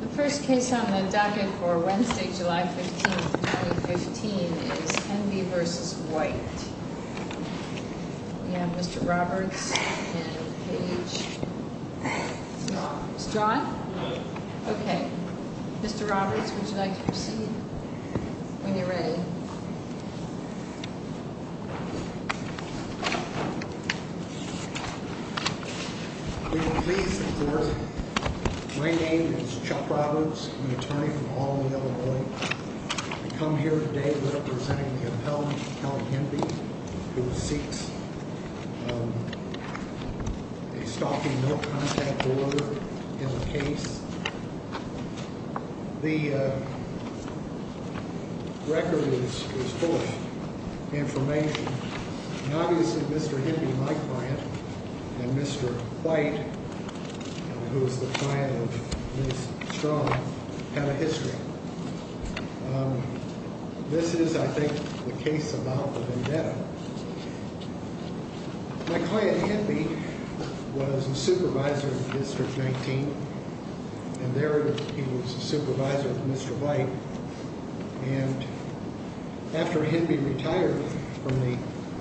The first case on the docket for Wednesday, July 15, 2015, is Enby v. White. We have Mr. Roberts and Paige Small. Mr. Roberts, would you like to proceed when you're ready? We are pleased to serve. My name is Chuck Roberts. I'm an attorney from Aldenville, Illinois. I come here today representing the appellant, Count Enby, who seeks a stalking no-contact order in the case. The record is full of information. Obviously, Mr. Enby, my client, and Mr. White, who is the client of Ms. Strong, have a history. This is, I think, the case about the vendetta. My client, Enby, was a supervisor of District 19, and there he was a supervisor of Mr. White. And after Enby retired from the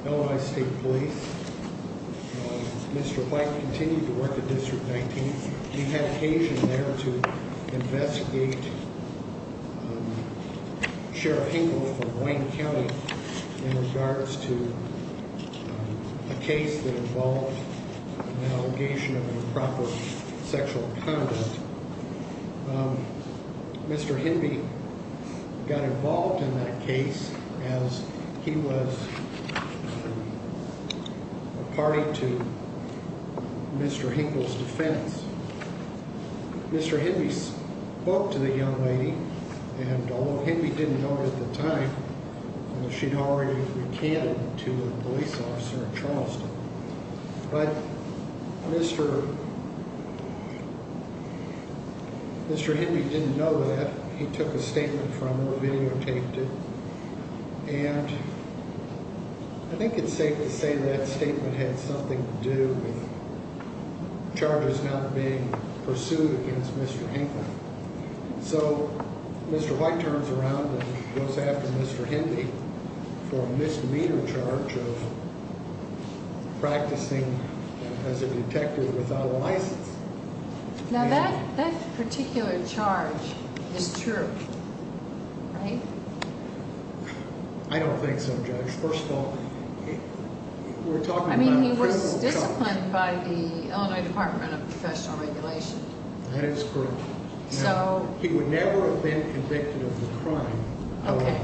Illinois State Police, Mr. White continued to work at District 19. We had occasion there to investigate Sheriff Hinkle from Wayne County in regards to a case that involved an allegation of improper sexual conduct. Mr. Enby got involved in that case as he was a party to Mr. Hinkle's defense. Mr. Enby spoke to the young lady, and although Enby didn't know her at the time, she had already recanted to a police officer in Charleston. But Mr. Enby didn't know that. He took a statement from her, videotaped it, and I think it's safe to say that statement had something to do with charges not being pursued against Mr. Hinkle. So Mr. White turns around and goes after Mr. Enby for a misdemeanor charge of practicing as a detective without a license. Now that particular charge is true, right? I don't think so, Judge. First of all, we're talking about a criminal charge. I mean, he was disciplined by the Illinois Department of Professional Regulation. That is correct. He would never have been convicted of the crime. Okay.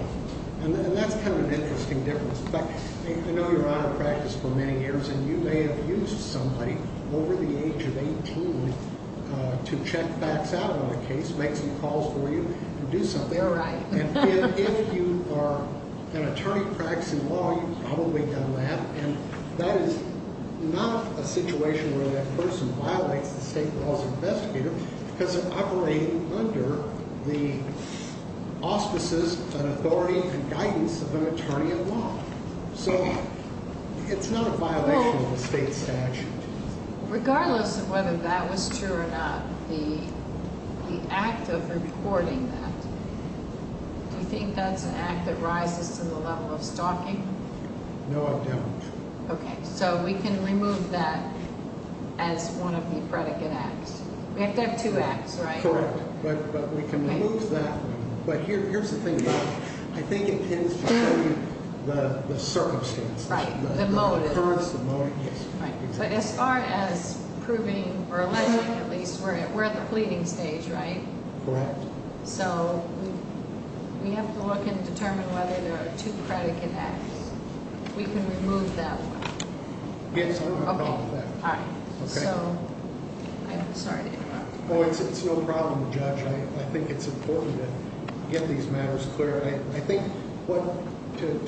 And that's kind of an interesting difference. In fact, I know you're out of practice for many years, and you may have used somebody over the age of 18 to check facts out on a case, make some calls for you, and do something. You're right. Well, regardless of whether that was true or not, the act of reporting that, do you think that's an act that rises to the level of stalking? No, I don't. Okay. So we can remove that as one of the predicate acts. We have to have two acts, right? Correct. But we can remove that. But here's the thing, though. I think it depends on the circumstance. Right. The motive. The occurrence, the motive, yes. Right. But as far as proving or alleging, at least, we're at the pleading stage, right? Correct. So we have to look and determine whether there are two predicate acts. We can remove that one. Yes, I don't have a problem with that. Okay. All right. Okay. So I'm sorry to interrupt. Oh, it's no problem, Judge. I think it's important to get these matters clear.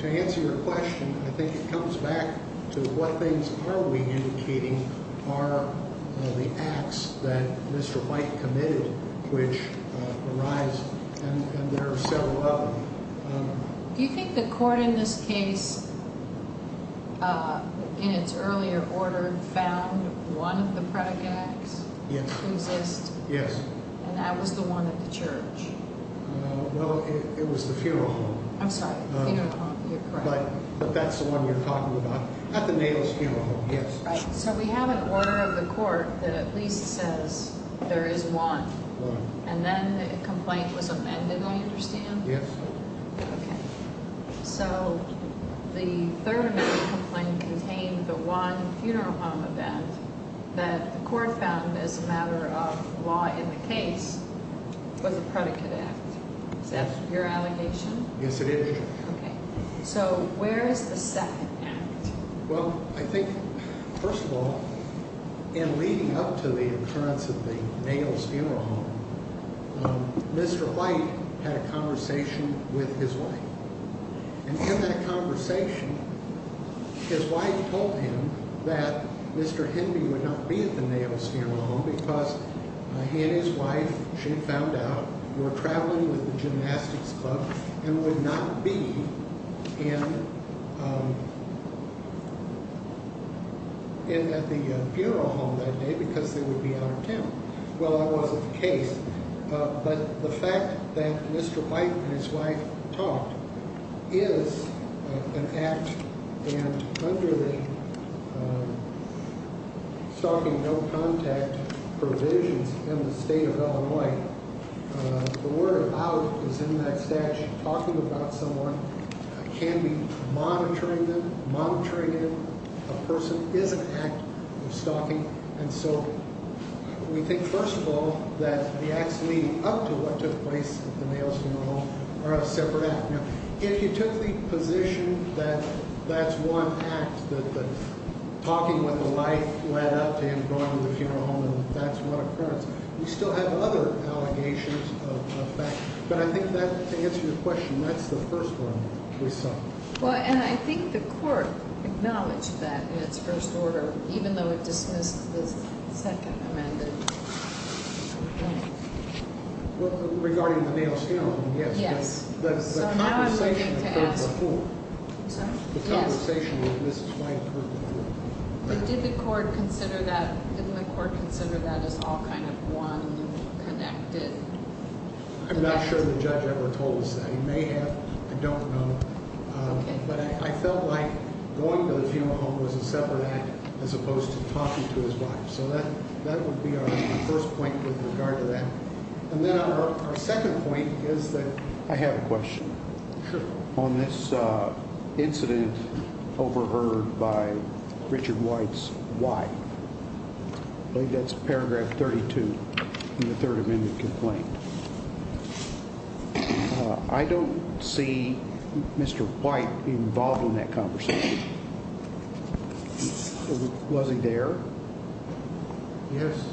To answer your question, I think it comes back to what things are we indicating are the acts that Mr. White committed, which arise, and there are several of them. Do you think the court in this case, in its earlier order, found one of the predicate acts to exist? Yes. And that was the one at the church? Well, it was the funeral home. I'm sorry. Funeral home. You're correct. But that's the one we're talking about. At the Natal's funeral home, yes. Right. So we have an order of the court that at least says there is one. Right. And then the complaint was amended, I understand? Yes. Okay. So the third amendment complaint contained the one funeral home event that the court found as a matter of law in the case was a predicate act. Is that your allegation? Yes, it is. Okay. So where is the second act? Well, I think, first of all, in leading up to the occurrence of the Natal's funeral home, Mr. White had a conversation with his wife. And in that conversation, his wife told him that Mr. Henry would not be at the Natal's funeral home because he and his wife, she found out, were traveling with the gymnastics club and would not be at the funeral home that day because they would be out of town. Well, that wasn't the case. But the fact that Mr. White and his wife talked is an act. And under the stalking no contact provisions in the state of Illinois, the word out is in that statute, talking about someone can be monitoring them, monitoring them, a person is an act of stalking. And so we think, first of all, that the acts leading up to what took place at the Natal's funeral home are a separate act. Now, if you took the position that that's one act, that the talking with the wife led up to him going to the funeral home and that's one occurrence, we still have other allegations of that. But I think that, to answer your question, that's the first one we saw. Well, and I think the court acknowledged that in its first order, even though it dismissed the second amendment. Well, regarding the Natal's funeral home, yes. Yes. The conversation occurred before. I'm sorry? Yes. The conversation with Mrs. White occurred before. But did the court consider that as all kind of one connected? I'm not sure the judge ever told us that. He may have. I don't know. But I felt like going to the funeral home was a separate act as opposed to talking to his wife. So that would be our first point with regard to that. And then our second point is that I have a question. Sure. On this incident overheard by Richard White's wife, I believe that's paragraph 32 in the third amendment complaint. I don't see Mr. White involved in that conversation. Was he there? Yes.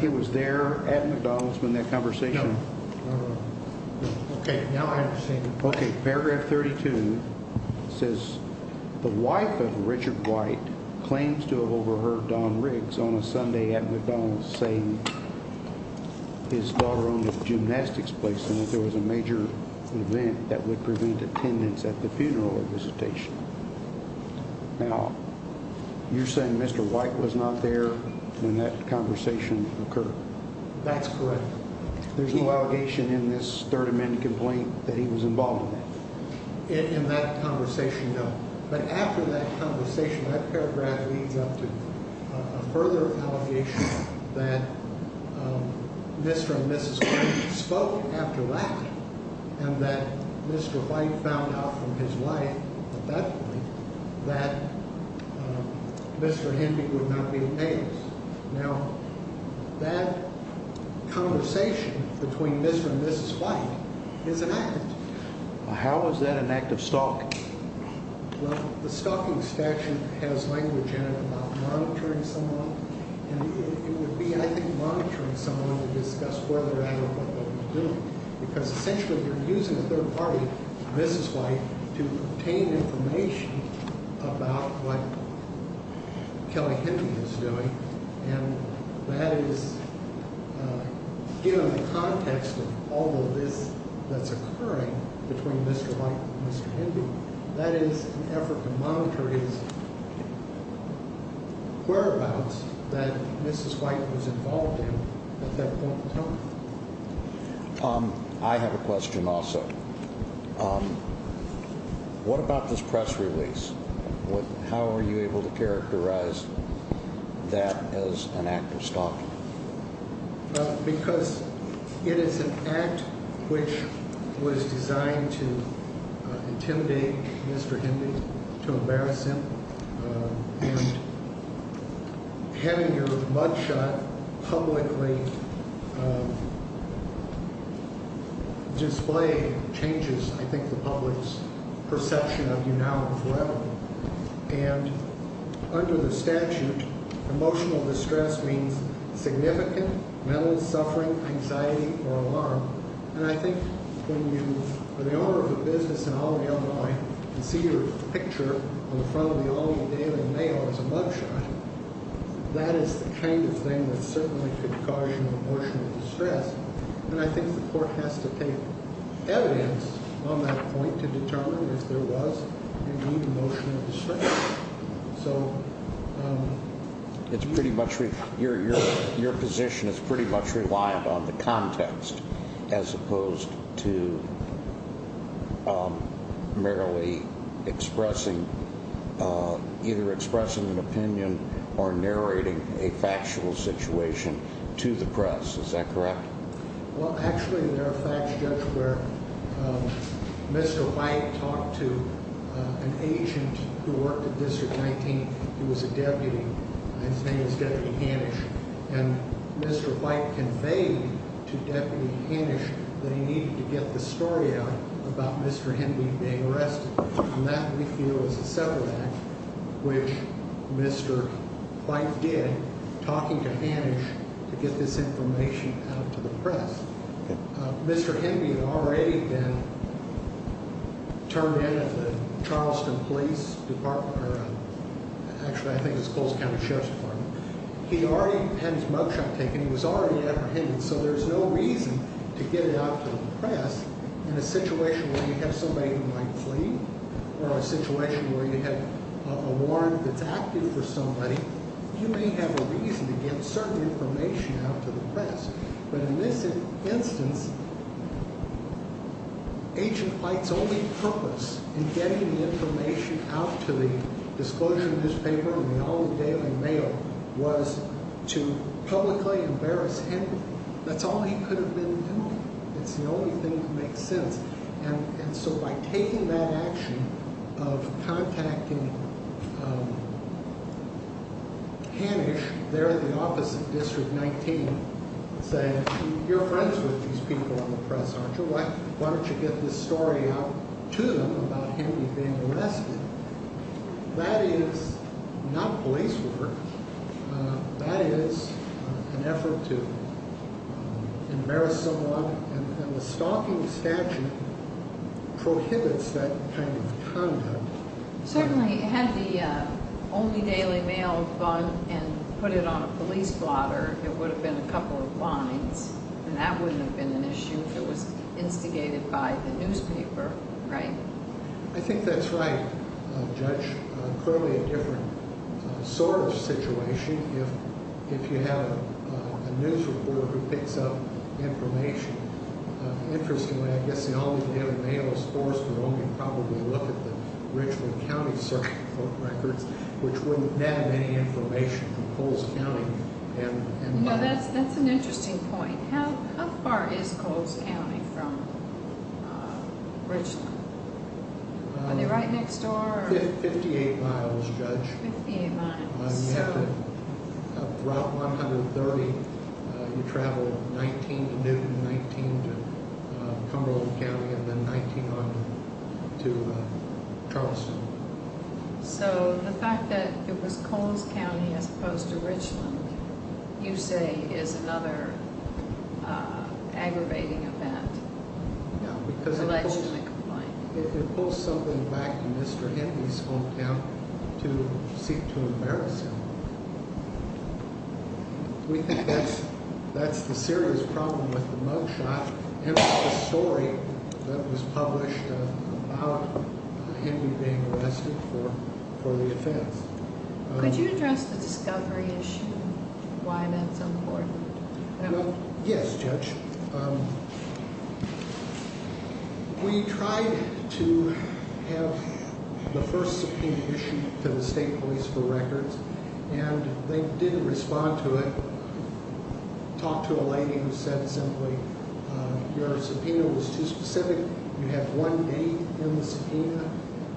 He was there at McDonald's in that conversation? No. Okay. Now I understand. Okay. Paragraph 32 says the wife of Richard White claims to have overheard Don Riggs on a Sunday at McDonald's saying his daughter owned a gymnastics place and that there was a major event that would prevent attendance at the funeral or visitation. Now, you're saying Mr. White was not there when that conversation occurred? That's correct. There's no allegation in this third amendment complaint that he was involved in that? In that conversation, no. But after that conversation, that paragraph leads up to a further allegation that Mr. and Mrs. White spoke after that and that Mr. White found out from his wife at that point that Mr. Henby would not be in payers. Now, that conversation between Mr. and Mrs. White is an act. How is that an act of stalking? Well, the stalking statute has language in it about monitoring someone, and it would be, I think, monitoring someone to discuss whether or not they're doing it. Because essentially you're using a third party, Mrs. White, to obtain information about what Kelly Henby was doing, and that is, given the context of all of this that's occurring between Mr. White and Mr. Henby, that is an effort to monitor his whereabouts that Mrs. White was involved in at that point in time. I have a question also. What about this press release? How are you able to characterize that as an act of stalking? Because it is an act which was designed to intimidate Mr. Henby, to embarrass him, and having your mugshot publicly displayed changes, I think, the public's perception of you now and forever. And under the statute, emotional distress means significant mental suffering, anxiety, or alarm. And I think when you are the owner of a business in Albany, Illinois, and see your picture on the front of the Albany Daily Mail as a mugshot, that is the kind of thing that certainly could cause you emotional distress. And I think the court has to take evidence on that point to determine if there was any emotional distress. Your position is pretty much reliant on the context, as opposed to merely expressing either an opinion or narrating a factual situation to the press. Is that correct? Well, actually, there are facts, Judge, where Mr. White talked to an agent who worked at District 19. He was a deputy. His name was Deputy Hanisch. And Mr. White conveyed to Deputy Hanisch that he needed to get the story out about Mr. Henby being arrested. And that, we feel, is a separate act, which Mr. White did, talking to Hanisch to get this information out to the press. Mr. Henby had already been turned in at the Charleston Police Department, or actually, I think it was Coles County Sheriff's Department. He already had his mugshot taken. He was already apprehended. So there's no reason to get it out to the press in a situation where you have somebody who might flee, or a situation where you have a warrant that's active for somebody. You may have a reason to get certain information out to the press. But in this instance, Agent White's only purpose in getting the information out to the Disclosure Newspaper and the All the Daily Mail was to publicly embarrass Henby. That's all he could have been doing. It's the only thing that makes sense. And so by taking that action of contacting Hanisch there at the office of District 19, saying, you're friends with these people on the press, aren't you? Why don't you get this story out to them about Henby being arrested? That is not police work. That is an effort to embarrass someone, and the stalking statute prohibits that kind of conduct. Certainly, had the All the Daily Mail gone and put it on a police blotter, there would have been a couple of fines, and that wouldn't have been an issue if it was instigated by the newspaper, right? I think that's right, Judge. Clearly a different sort of situation if you have a news reporter who picks up information. Interestingly, I guess the All the Daily Mail is forced to only probably look at the Richland County Circuit Court records, which wouldn't have any information from Coles County. That's an interesting point. How far is Coles County from Richland? Are they right next door? Fifty-eight miles, Judge. Fifty-eight miles. Route 130, you travel 19 to Newton, 19 to Cumberland County, and then 19 on to Charleston. So the fact that it was Coles County as opposed to Richland, you say, is another aggravating event. Yeah, because it pulls something back to Mr. Henby's hometown to seek to embarrass him. We think that's the serious problem with the mugshot and with the story that was published about Henby being arrested for the offense. Could you address the discovery issue, why that's important? Yes, Judge. We tried to have the first subpoena issued to the state police for records, and they didn't respond to it. Talked to a lady who said simply, your subpoena was too specific. You have one date in the subpoena,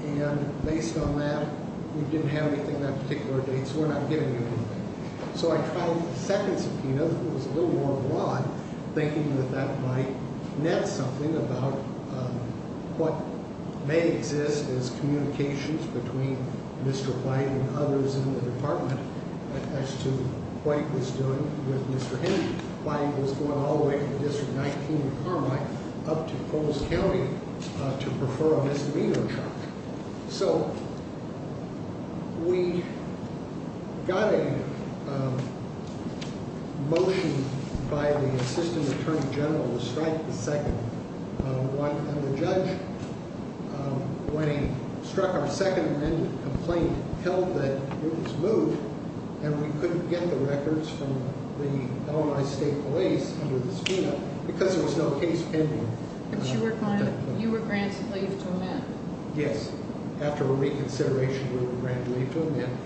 and based on that, we didn't have anything on that particular date, so we're not giving you anything. So I tried the second subpoena, which was a little more broad, thinking that that might net something about what may exist as communications between Mr. White and others in the department as to what he was doing with Mr. Henby. White was going all the way from District 19 in Carmine up to Coles County to prefer a misdemeanor charge. So we got a motion by the Assistant Attorney General to strike the second one, and the judge, when he struck our second amendment complaint, held that it was moved and we couldn't get the records from the Illinois State Police under the subpoena because there was no case pending. But you were granted leave to amend? Yes. After a reconsideration, we were granted leave to amend.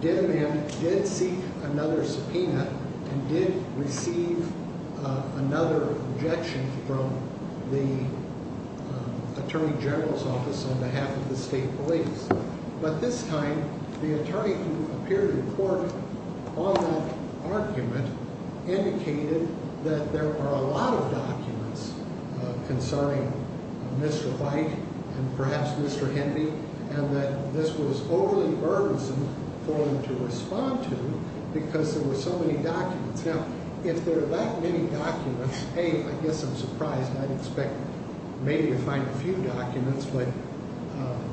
Did amend, did seek another subpoena, and did receive another objection from the Attorney General's office on behalf of the state police. But this time, the attorney who appeared in court on that argument indicated that there are a lot of documents concerning Mr. White and perhaps Mr. Henby, and that this was overly burdensome for him to respond to because there were so many documents. Now, if there are that many documents, hey, I guess I'm surprised. I'd expect maybe to find a few documents, but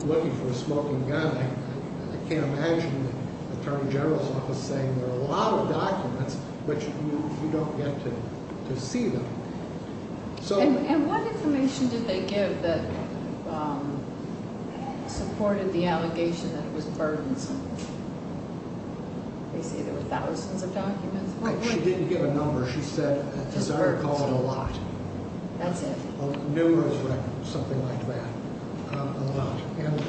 looking for a smoking gun, I can't imagine the Attorney General's office saying there are a lot of documents, but you don't get to see them. And what information did they give that supported the allegation that it was burdensome? They say there were thousands of documents. She didn't give a number. She said, as I recall, a lot. That's it. Numerous records, something like that. A lot. And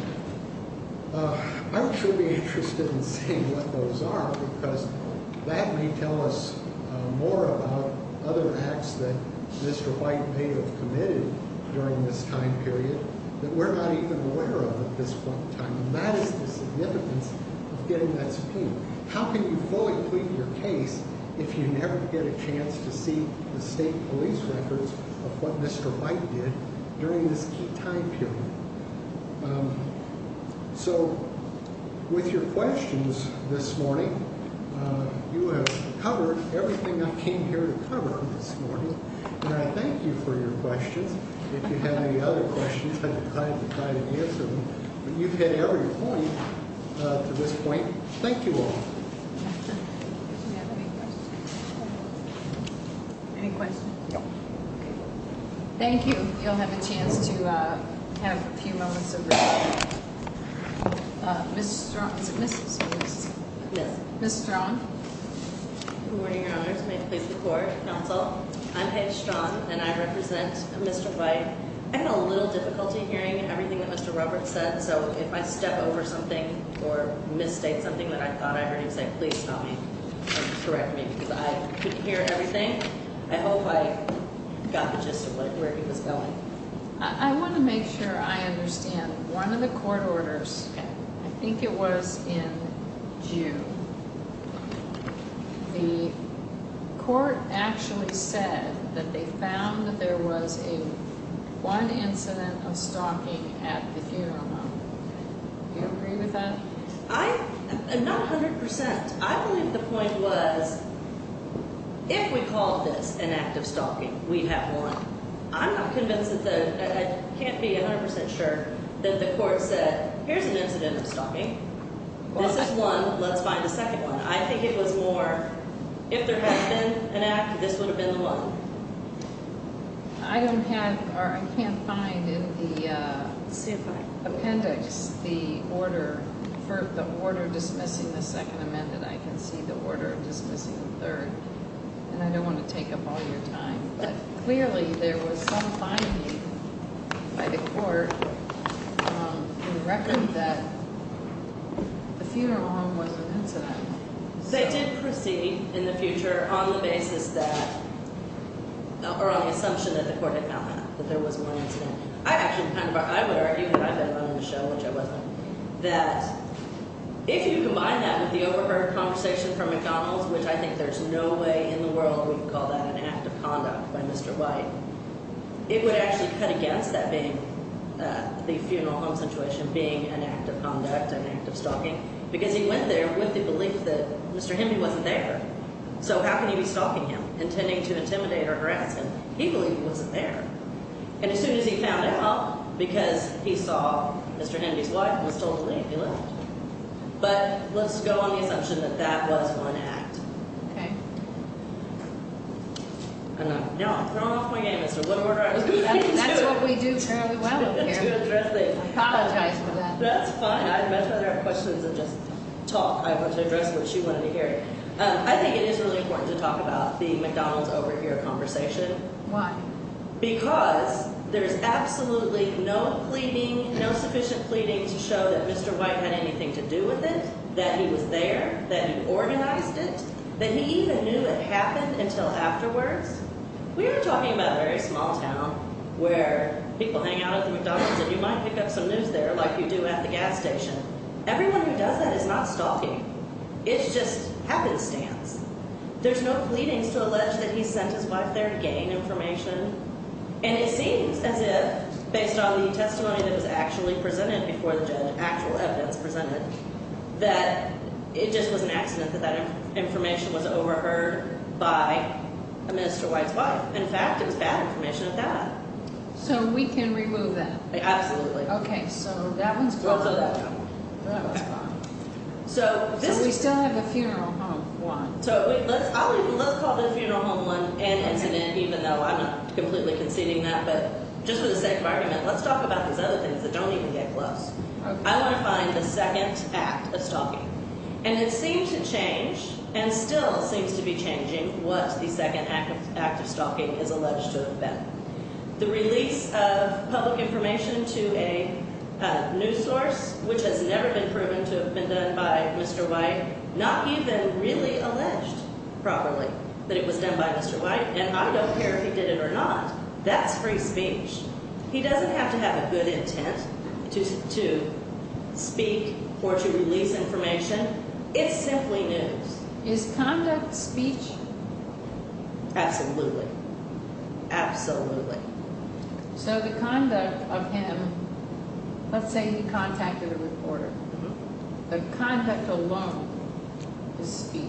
I'm truly interested in seeing what those are because that may tell us more about other acts that Mr. White may have committed during this time period that we're not even aware of at this point in time, and that is the significance of getting that subpoena. How can you fully plead your case if you never get a chance to see the state police records of what Mr. White did during this key time period? So, with your questions this morning, you have covered everything I came here to cover this morning, and I thank you for your questions. If you have any other questions, I'd be glad to try to answer them, but you've hit every point to this point. Thank you all. Any questions? No. Thank you. You'll have a chance to have a few moments of. Mr. Mr. Mr. Mr. Good morning, Your Honor. May it please the court. Counsel. I'm headstrong and I represent Mr. White. I had a little difficulty hearing everything that Mr. Roberts said. So if I step over something or mistake something that I thought I heard him say, please stop me. Correct me. I couldn't hear everything. I hope I got the gist of where he was going. I want to make sure I understand. One of the court orders, I think it was in June, the court actually said that they found that there was a one incident of stalking at the funeral home. Do you agree with that? I'm not 100 percent. I believe the point was if we call this an act of stalking, we have one. I'm not convinced that I can't be 100 percent sure that the court said, here's an incident of stalking. This is one. Let's find the second one. I think it was more if there had been an act, this would have been the one. I can't find in the appendix the order dismissing the second amendment. I can see the order dismissing the third. I don't want to take up all your time, but clearly there was some finding by the court in the record that the funeral home was an incident. They did proceed in the future on the basis that – or on the assumption that the court had found that there was one incident. I actually kind of – I would argue, and I've been on the show, which I wasn't, that if you combine that with the overheard conversation from McDonald's, which I think there's no way in the world we can call that an act of conduct by Mr. White, it would actually cut against that being the funeral home situation being an act of conduct, an act of stalking, because he went there with the belief that Mr. Hemby wasn't there. So how can he be stalking him, intending to intimidate or harass him? He believed he wasn't there. And as soon as he found out, well, because he saw Mr. Hemby's wife, he was told to leave. He left. But let's go on the assumption that that was one act. Okay. No, I'm throwing off my game. That's what we do fairly well up here. I apologize for that. That's fine. I'd much rather have questions than just talk. I want to address what she wanted to hear. I think it is really important to talk about the McDonald's overhear conversation. Why? Because there is absolutely no pleading, no sufficient pleading to show that Mr. White had anything to do with it, that he was there, that he organized it, that he even knew it happened until afterwards. We are talking about a very small town where people hang out at the McDonald's and you might pick up some news there like you do at the gas station. Everyone who does that is not stalking. It's just happenstance. There's no pleadings to allege that he sent his wife there to gain information. And it seems as if based on the testimony that was actually presented before the judge, actual evidence presented, that it just was an accident that that information was overheard by a Mr. White's wife. In fact, it was bad information at that. So we can remove that? Absolutely. Okay. So that one's closed. We'll throw that down. That was fine. So we still have a funeral home. So let's call this funeral home one and incident, even though I'm not completely conceding that. But just for the sake of argument, let's talk about these other things that don't even get close. I want to find the second act of stalking. And it seems to change and still seems to be changing what the second act of stalking is alleged to have been. The release of public information to a news source, which has never been proven to have been done by Mr. White, not even really alleged properly that it was done by Mr. White. And I don't care if he did it or not. That's free speech. He doesn't have to have a good intent to speak or to release information. It's simply news. Is conduct speech? Absolutely. Absolutely. So the conduct of him, let's say he contacted a reporter. The conduct alone is speech.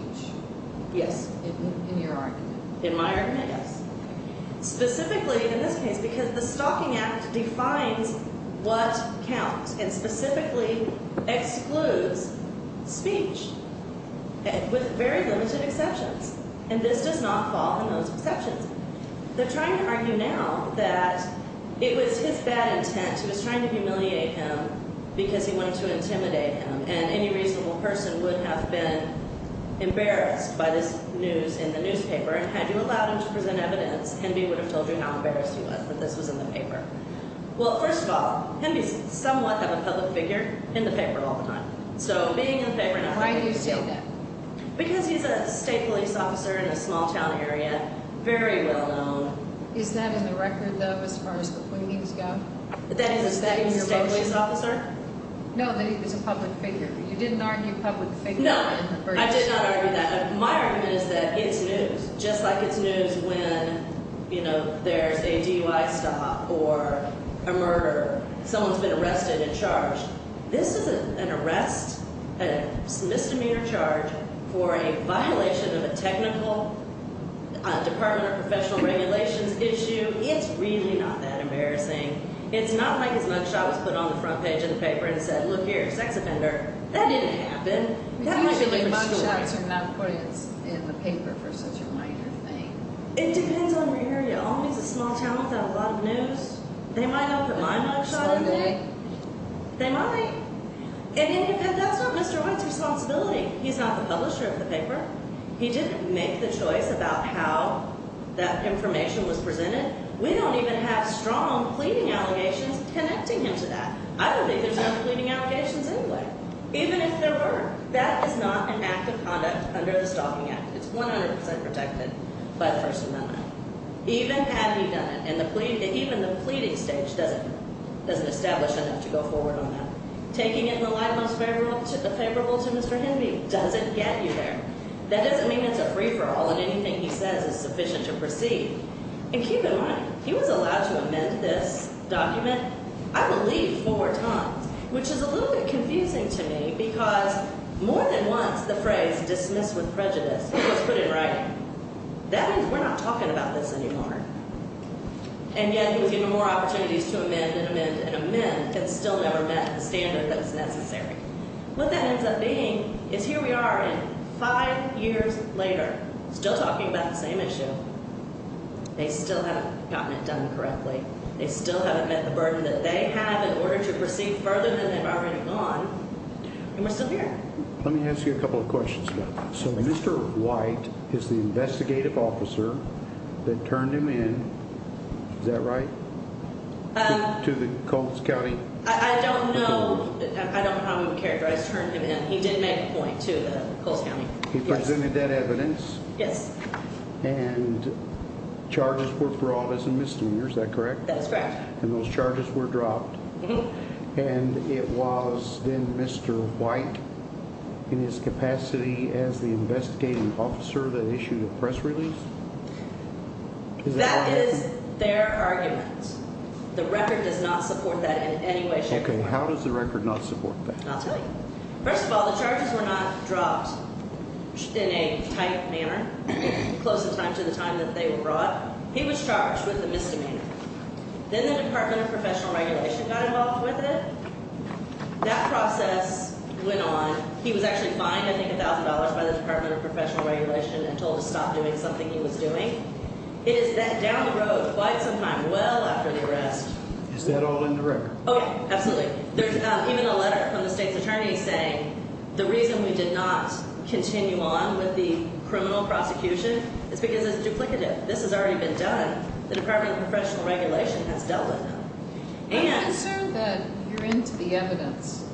Yes. In your argument. In my argument, yes. Specifically, in this case, because the stalking act defines what counts and specifically excludes speech with very limited exceptions. And this does not fall in those exceptions. They're trying to argue now that it was his bad intent. He was trying to humiliate him because he wanted to intimidate him. And any reasonable person would have been embarrassed by this news in the newspaper. And had you allowed him to present evidence, Henby would have told you how embarrassed he was that this was in the paper. Well, first of all, Henby's somewhat of a public figure in the paper all the time. So being in the paper now. Why do you say that? Because he's a state police officer in a small town area. Very well known. Is that in the record, though, as far as the pointings go? That he's a state police officer? No, that he was a public figure. You didn't argue public figure. No, I did not argue that. My argument is that it's news. Just like it's news when, you know, there's a DUI stop or a murder. Someone's been arrested and charged. This is an arrest, a misdemeanor charge for a violation of a technical department or professional regulations issue. It's really not that embarrassing. It's not like his mugshot was put on the front page of the paper and said, look here, sex offender. That didn't happen. Usually mugshots are not put in the paper for such a minor thing. It depends on where you're in. It all means a small town without a lot of news. They might not put my mugshot in there. They might. They might. And that's not Mr. White's responsibility. He's not the publisher of the paper. He didn't make the choice about how that information was presented. We don't even have strong pleading allegations connecting him to that. I don't think there's any pleading allegations anyway, even if there were. That is not an act of conduct under the Stalking Act. It's 100 percent protected by the First Amendment, even had he done it. And even the pleading stage doesn't establish enough to go forward on that. Taking it in the light most favorable to Mr. Hinby doesn't get you there. That doesn't mean it's a free-for-all and anything he says is sufficient to proceed. And keep in mind, he was allowed to amend this document, I believe, four times, which is a little bit confusing to me because more than once the phrase, dismiss with prejudice, was put in writing. That means we're not talking about this anymore. And yet he was given more opportunities to amend and amend and amend and still never met the standard that was necessary. What that ends up being is here we are and five years later still talking about the same issue. They still haven't gotten it done correctly. They still haven't met the burden that they have in order to proceed further than they've already gone. And we're still here. Let me ask you a couple of questions about that. So Mr. White is the investigative officer that turned him in, is that right, to the Coles County? I don't know how he would characterize turn him in. He did make a point to the Coles County. He presented that evidence. Yes. And charges were brought as a misdemeanor, is that correct? That's correct. And those charges were dropped. And it was then Mr. White in his capacity as the investigative officer that issued the press release? That is their argument. The record does not support that in any way, shape, or form. Okay. How does the record not support that? I'll tell you. First of all, the charges were not dropped in a tight manner close in time to the time that they were brought. He was charged with a misdemeanor. Then the Department of Professional Regulation got involved with it. That process went on. He was actually fined, I think, $1,000 by the Department of Professional Regulation and told to stop doing something he was doing. It is that down the road quite some time, well after the arrest. Is that all in the record? Okay. Absolutely. There's even a letter from the state's attorney saying the reason we did not continue on with the criminal prosecution is because it's duplicative. This has already been done. The Department of Professional Regulation has dealt with them. I'm concerned that you're into the evidence.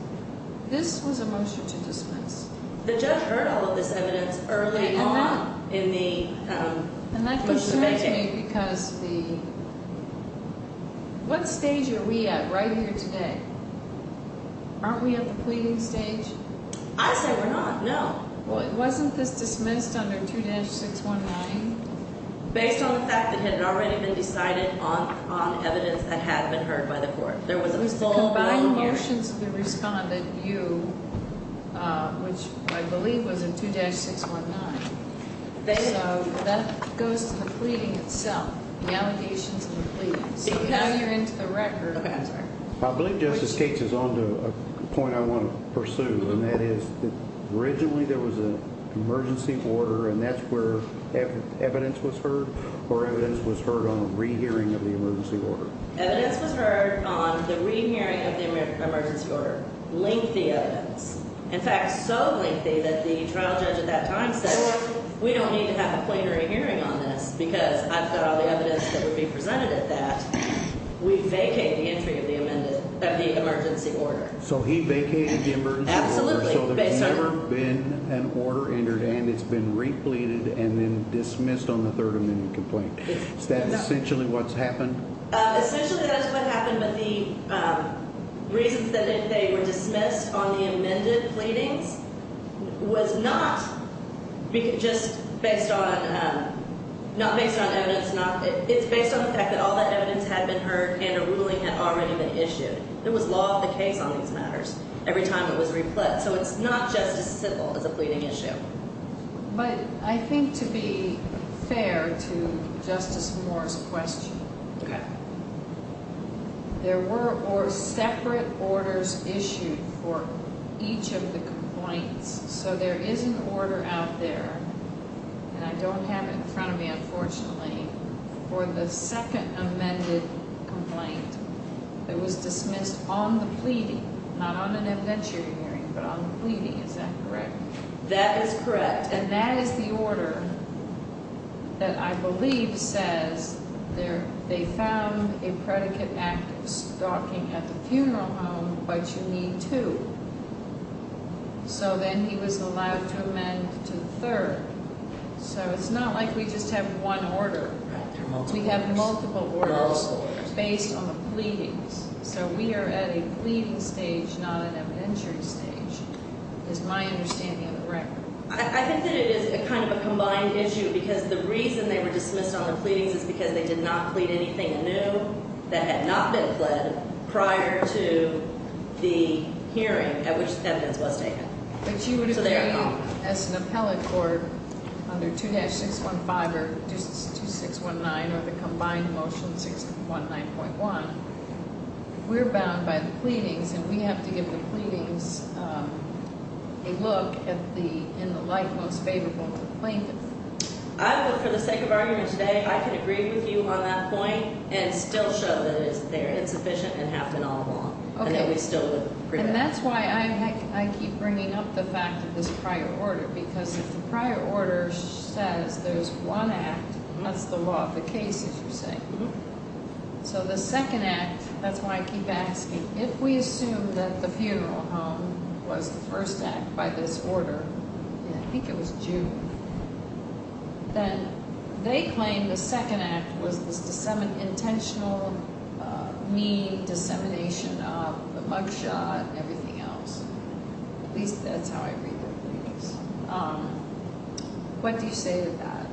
This was a motion to dismiss. The judge heard all of this evidence early on in the motion to make it. That concerns me because what stage are we at right here today? Aren't we at the pleading stage? I say we're not, no. Wasn't this dismissed under 2-619? Based on the fact that it had already been decided on evidence that had been heard by the court. It was a combined motion to the respondent, you, which I believe was in 2-619. So that goes to the pleading itself, the allegations of the pleading. So now you're into the record. I believe Justice Cates is on to a point I want to pursue. And that is that originally there was an emergency order, and that's where evidence was heard? Or evidence was heard on a rehearing of the emergency order? Evidence was heard on the rehearing of the emergency order. Lengthy evidence. In fact, so lengthy that the trial judge at that time said, we don't need to have a plenary hearing on this because I've got all the evidence that would be presented at that. We vacated the entry of the emergency order. Correct. So he vacated the emergency order. Absolutely. So there's never been an order entered in. It's been repleted and then dismissed on the third amendment complaint. Is that essentially what's happened? Essentially that's what happened. But the reasons that they were dismissed on the amended pleadings was not just based on, not based on evidence. It's based on the fact that all that evidence had been heard and a ruling had already been issued. There was law of the case on these matters every time it was replete. So it's not just as simple as a pleading issue. But I think to be fair to Justice Moore's question, there were separate orders issued for each of the complaints. So there is an order out there, and I don't have it in front of me, unfortunately, for the second amended complaint. It was dismissed on the pleading, not on an evidentiary hearing, but on the pleading. Is that correct? That is correct. And that is the order that I believe says they found a predicate act of stalking at the funeral home, but you need two. So then he was allowed to amend to the third. So it's not like we just have one order. We have multiple orders. Based on the pleadings. So we are at a pleading stage, not an evidentiary stage, is my understanding of the record. I think that it is kind of a combined issue because the reason they were dismissed on the pleadings is because they did not plead anything new that had not been pled prior to the hearing at which the evidence was taken. But you would agree as an appellate court under 2-615 or 2619 or the combined motion 619.1, we're bound by the pleadings, and we have to give the pleadings a look in the light most favorable to the plaintiff. I would, for the sake of argument today, I can agree with you on that point and still show that it's there. It's sufficient and happened all along. And that's why I keep bringing up the fact of this prior order. Because if the prior order says there's one act, that's the law of the case, as you say. So the second act, that's why I keep asking. If we assume that the funeral home was the first act by this order, and I think it was June, then they claim the second act was this intentional mean dissemination of the mug shot and everything else. At least that's how I read the pleadings. What do you say to that?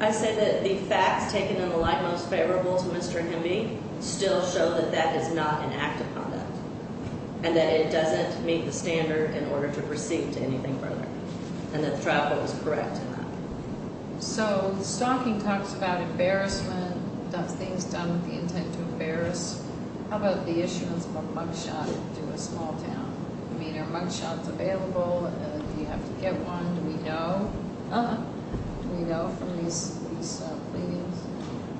I say that the facts taken in the light most favorable to Mr. Hemby still show that that is not an act of conduct. And that it doesn't meet the standard in order to proceed to anything further. And that the trial court was correct in that. So the stocking talks about embarrassment, does things done with the intent to embarrass. How about the issuance of a mug shot to a small town? I mean, are mug shots available? Do you have to get one? Do we know? Do we know from these pleadings?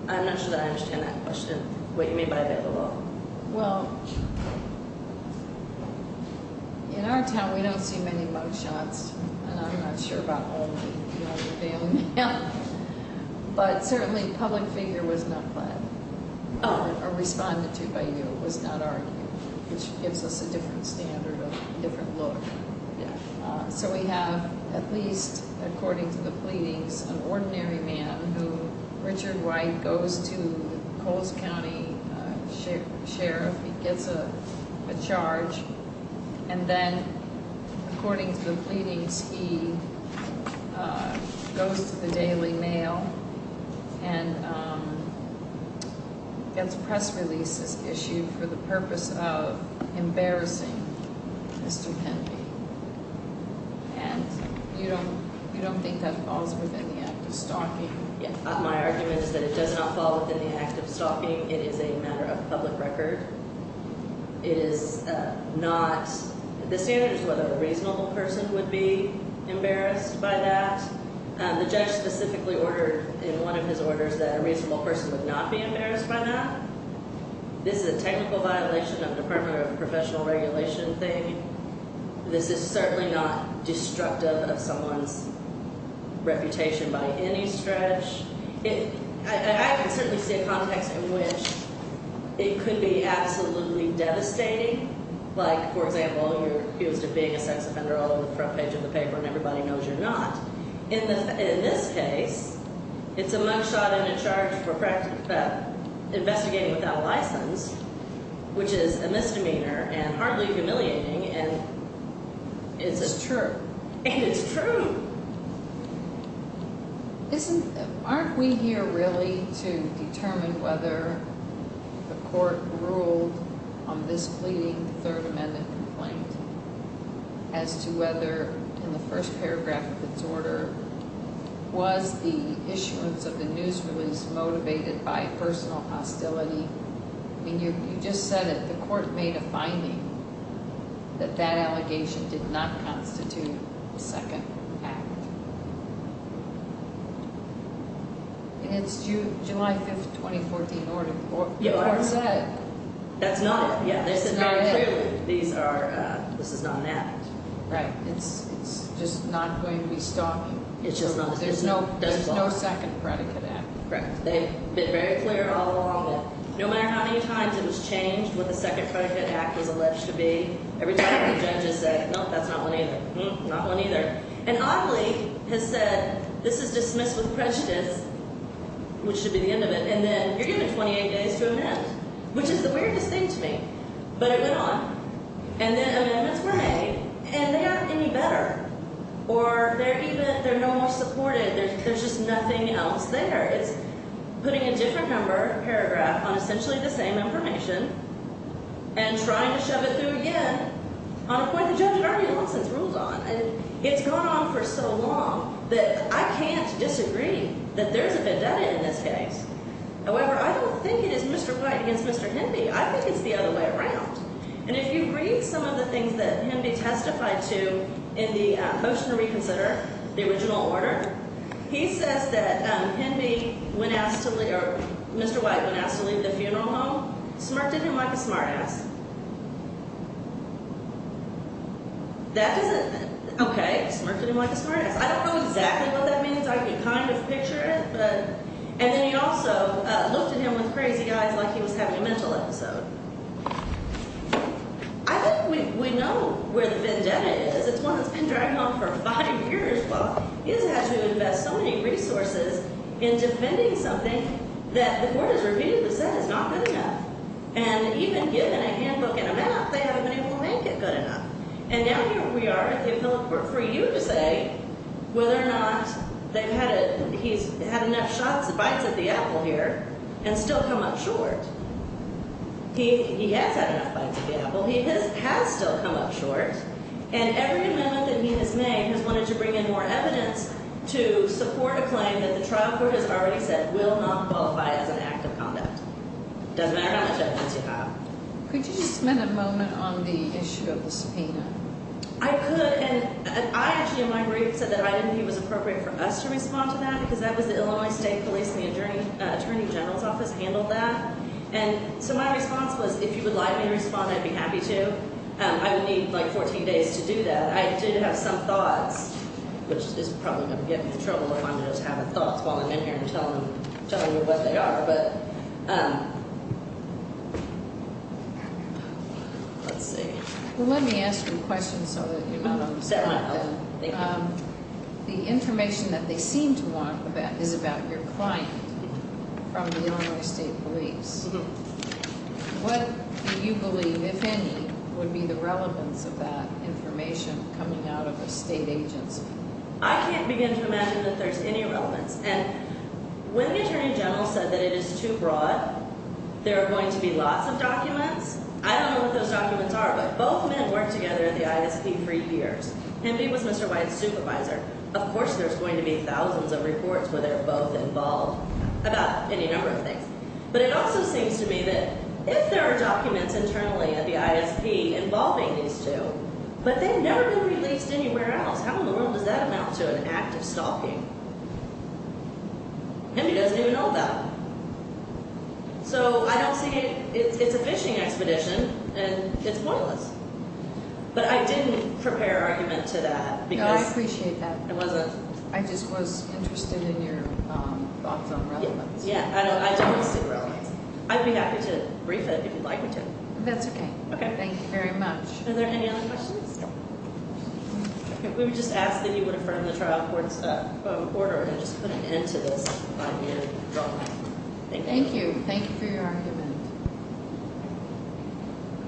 I'm not sure that I understand that question. What you mean by available? Well, in our town we don't see many mug shots. And I'm not sure about all of them. But certainly public figure was not planned or responded to by you. It was not argued. Which gives us a different standard, a different look. So we have, at least according to the pleadings, an ordinary man who, Richard White, goes to Coles County Sheriff. He gets a charge. And then, according to the pleadings, he goes to the Daily Mail and gets press releases issued for the purpose of embarrassing Mr. Penby. And you don't think that falls within the act of stalking? My argument is that it does not fall within the act of stalking. It is a matter of public record. It is not. The standard is whether a reasonable person would be embarrassed by that. The judge specifically ordered in one of his orders that a reasonable person would not be embarrassed by that. This is a technical violation of Department of Professional Regulation thing. This is certainly not destructive of someone's reputation by any stretch. I can certainly see a context in which it could be absolutely devastating. Like, for example, you're accused of being a sex offender all over the front page of the paper, and everybody knows you're not. In this case, it's a mug shot and a charge for investigating without a license, which is a misdemeanor and hardly humiliating. And it's true. And it's true. Aren't we here really to determine whether the court ruled on this pleading, the Third Amendment complaint, as to whether, in the first paragraph of its order, was the issuance of the news release motivated by personal hostility? I mean, you just said that the court made a finding that that allegation did not constitute a second act. And it's July 5th, 2014, the court said. That's not it. Yeah, they said very clearly this is not an act. Right. It's just not going to be stopping. It's just not. There's no second predicate act. Correct. They've been very clear all along that no matter how many times it was changed, what the second predicate act was alleged to be, every time the judges said, no, that's not one either. Not one either. And oddly has said, this is dismissed with prejudice, which should be the end of it. And then you're given 28 days to amend, which is the weirdest thing to me. But it went on. And then amendments were made. And they haven't been any better. Or they're no more supported. There's just nothing else there. It's putting a different number paragraph on essentially the same information and trying to shove it through again on a point the judge had already long since ruled on. And it's gone on for so long that I can't disagree that there's a vendetta in this case. However, I don't think it is Mr. White against Mr. Henby. I think it's the other way around. And if you read some of the things that Henby testified to in the motion to reconsider, the original order, he says that Henby, when asked to leave, or Mr. White, when asked to leave the funeral home, smirked at him like a smartass. That doesn't, okay, smirked at him like a smartass. I don't know exactly what that means. I can kind of picture it. And then he also looked at him with crazy eyes like he was having a mental episode. I think we know where the vendetta is. It's one that's been dragging on for five years. Well, he doesn't have to invest so many resources in defending something that the court has repeatedly said is not good enough. And even given a handbook and a map, they haven't been able to make it good enough. And now here we are at the appellate court for you to say whether or not he's had enough bites of the apple here and still come up short. He has had enough bites of the apple. He has still come up short. And every amendment that he has made has wanted to bring in more evidence to support a claim that the trial court has already said will not qualify as an act of conduct. It doesn't matter how much evidence you have. Could you just spend a moment on the issue of the subpoena? I could. And I actually in my brief said that I didn't think it was appropriate for us to respond to that because that was the Illinois State Police and the Attorney General's office handled that. And so my response was if you would like me to respond, I'd be happy to. I would need like 14 days to do that. I did have some thoughts, which is probably going to get me in trouble if I'm just having thoughts while I'm in here and telling you what they are. But let's see. Well, let me ask you a question so that you're not upset. Thank you. The information that they seem to want is about your client from the Illinois State Police. What do you believe, if any, would be the relevance of that information coming out of a state agency? I can't begin to imagine that there's any relevance. And when the Attorney General said that it is too broad, there are going to be lots of documents. I don't know what those documents are, but both men worked together at the ISP for years. Hemby was Mr. White's supervisor. Of course there's going to be thousands of reports where they're both involved about any number of things. But it also seems to me that if there are documents internally at the ISP involving these two, but they've never been released anywhere else, how in the world does that amount to an act of stalking? Hemby doesn't even know that. So I don't see it. It's a phishing expedition, and it's pointless. But I didn't prepare an argument to that. No, I appreciate that. It wasn't. I just was interested in your thoughts on relevance. Yeah. I don't see relevance. I'd be happy to brief it if you'd like me to. That's okay. Okay. Thank you very much. Are there any other questions? We would just ask that you would affirm the trial court's order and just put an end to this by the end of the trial. Thank you. Thank you. Thank you for your argument.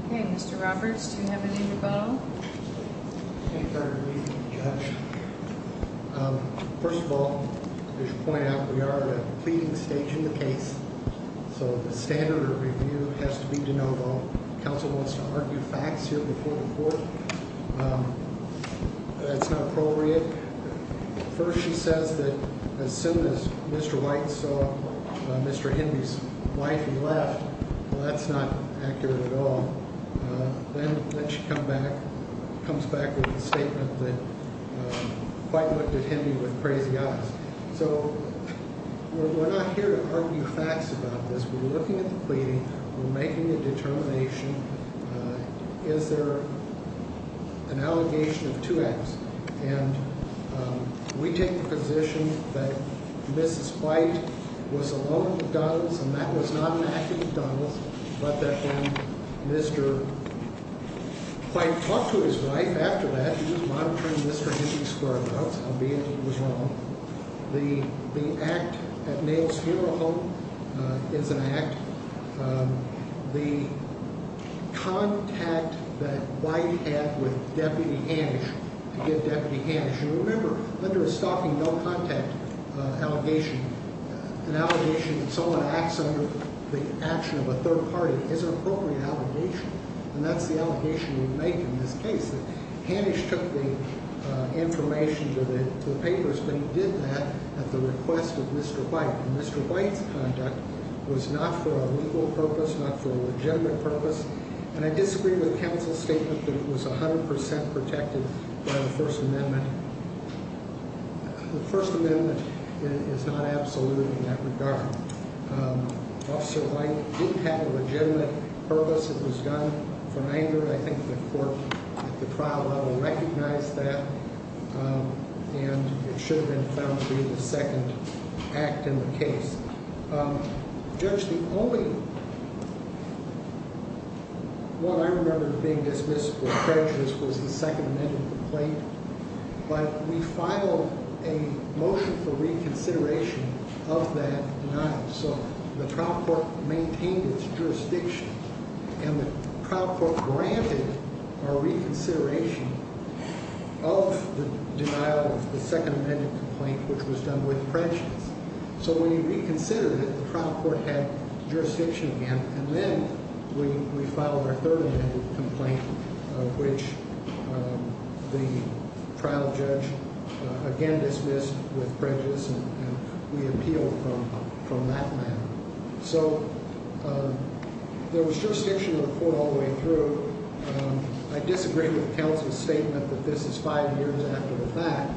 Okay. Mr. Roberts, do you have any rebuttal? Thank you for your briefing, Judge. First of all, I should point out we are at a pleading stage in the case, so the standard of review has to be de novo. Counsel wants to argue facts here before the court. That's not appropriate. First, she says that as soon as Mr. White saw Mr. Henry's wife, he left. Well, that's not accurate at all. Then she comes back with a statement that White looked at Henry with crazy eyes. So we're not here to argue facts about this. We're looking at the pleading. We're making a determination. Is there an allegation of two acts? And we take the position that Mrs. White was alone at McDonald's, and that was not an act at McDonald's, but that when Mr. White talked to his wife after that, he was monitoring Mr. Henry's car, albeit it was wrong. The act at Neil's funeral home is an act. The contact that White had with Deputy Hanisch, to get Deputy Hanisch. You remember, under a stalking no contact allegation, an allegation that someone acts under the action of a third party is an appropriate allegation, and that's the allegation we make in this case. Hanisch took the information to the papers, but he did that at the request of Mr. White. Mr. White's conduct was not for a legal purpose, not for a legitimate purpose, and I disagree with counsel's statement that it was 100% protected by the First Amendment. The First Amendment is not absolute in that regard. Officer White didn't have a legitimate purpose. It was done for anger. I think the court at the trial level recognized that, and it should have been found to be the second act in the case. Judge, the only one I remember being dismissed for prejudice was the Second Amendment complaint, but we filed a motion for reconsideration of that denial, so the trial court maintained its jurisdiction. And the trial court granted our reconsideration of the denial of the Second Amendment complaint, which was done with prejudice. So when we reconsidered it, the trial court had jurisdiction again, and then we filed our Third Amendment complaint, which the trial judge again dismissed with prejudice, and we appealed from that matter. So there was jurisdiction in the court all the way through. I disagree with counsel's statement that this is five years after the fact.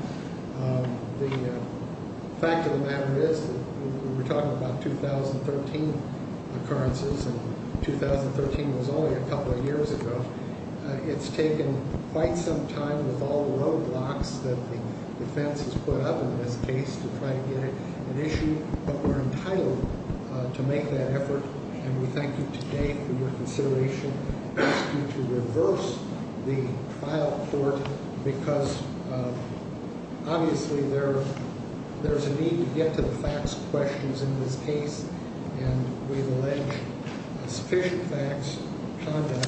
The fact of the matter is that we're talking about 2013 occurrences, and 2013 was only a couple of years ago. It's taken quite some time with all the roadblocks that the defense has put up in this case to try to get an issue, but we're entitled to make that effort, and we thank you today for your consideration. We ask you to reverse the trial court because, obviously, there's a need to get to the facts questions in this case, and we've alleged sufficient facts of conduct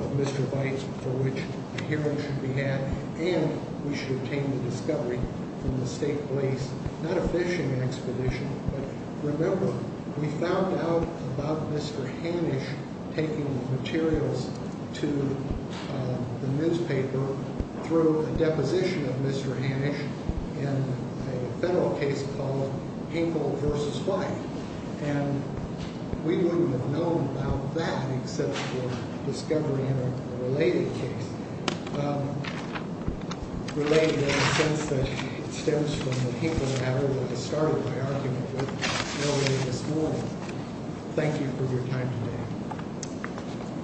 of Mr. Bight for which a hearing should be had, and we should obtain the discovery from the state police. Not a fishing expedition, but remember, we found out about Mr. Hanisch taking the materials to the newspaper through a deposition of Mr. Hanisch in a federal case called Hinkle v. Bight, and we wouldn't have known about that except for discovery in a related case, related in the sense that it stems from the Hinkle matter that I started my argument with earlier this morning. Thank you for your time today.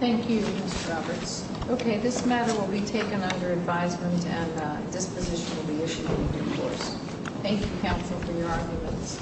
Thank you, Mr. Roberts. Okay, this matter will be taken under advisement, and a disposition will be issued in due course. Thank you, counsel, for your arguments.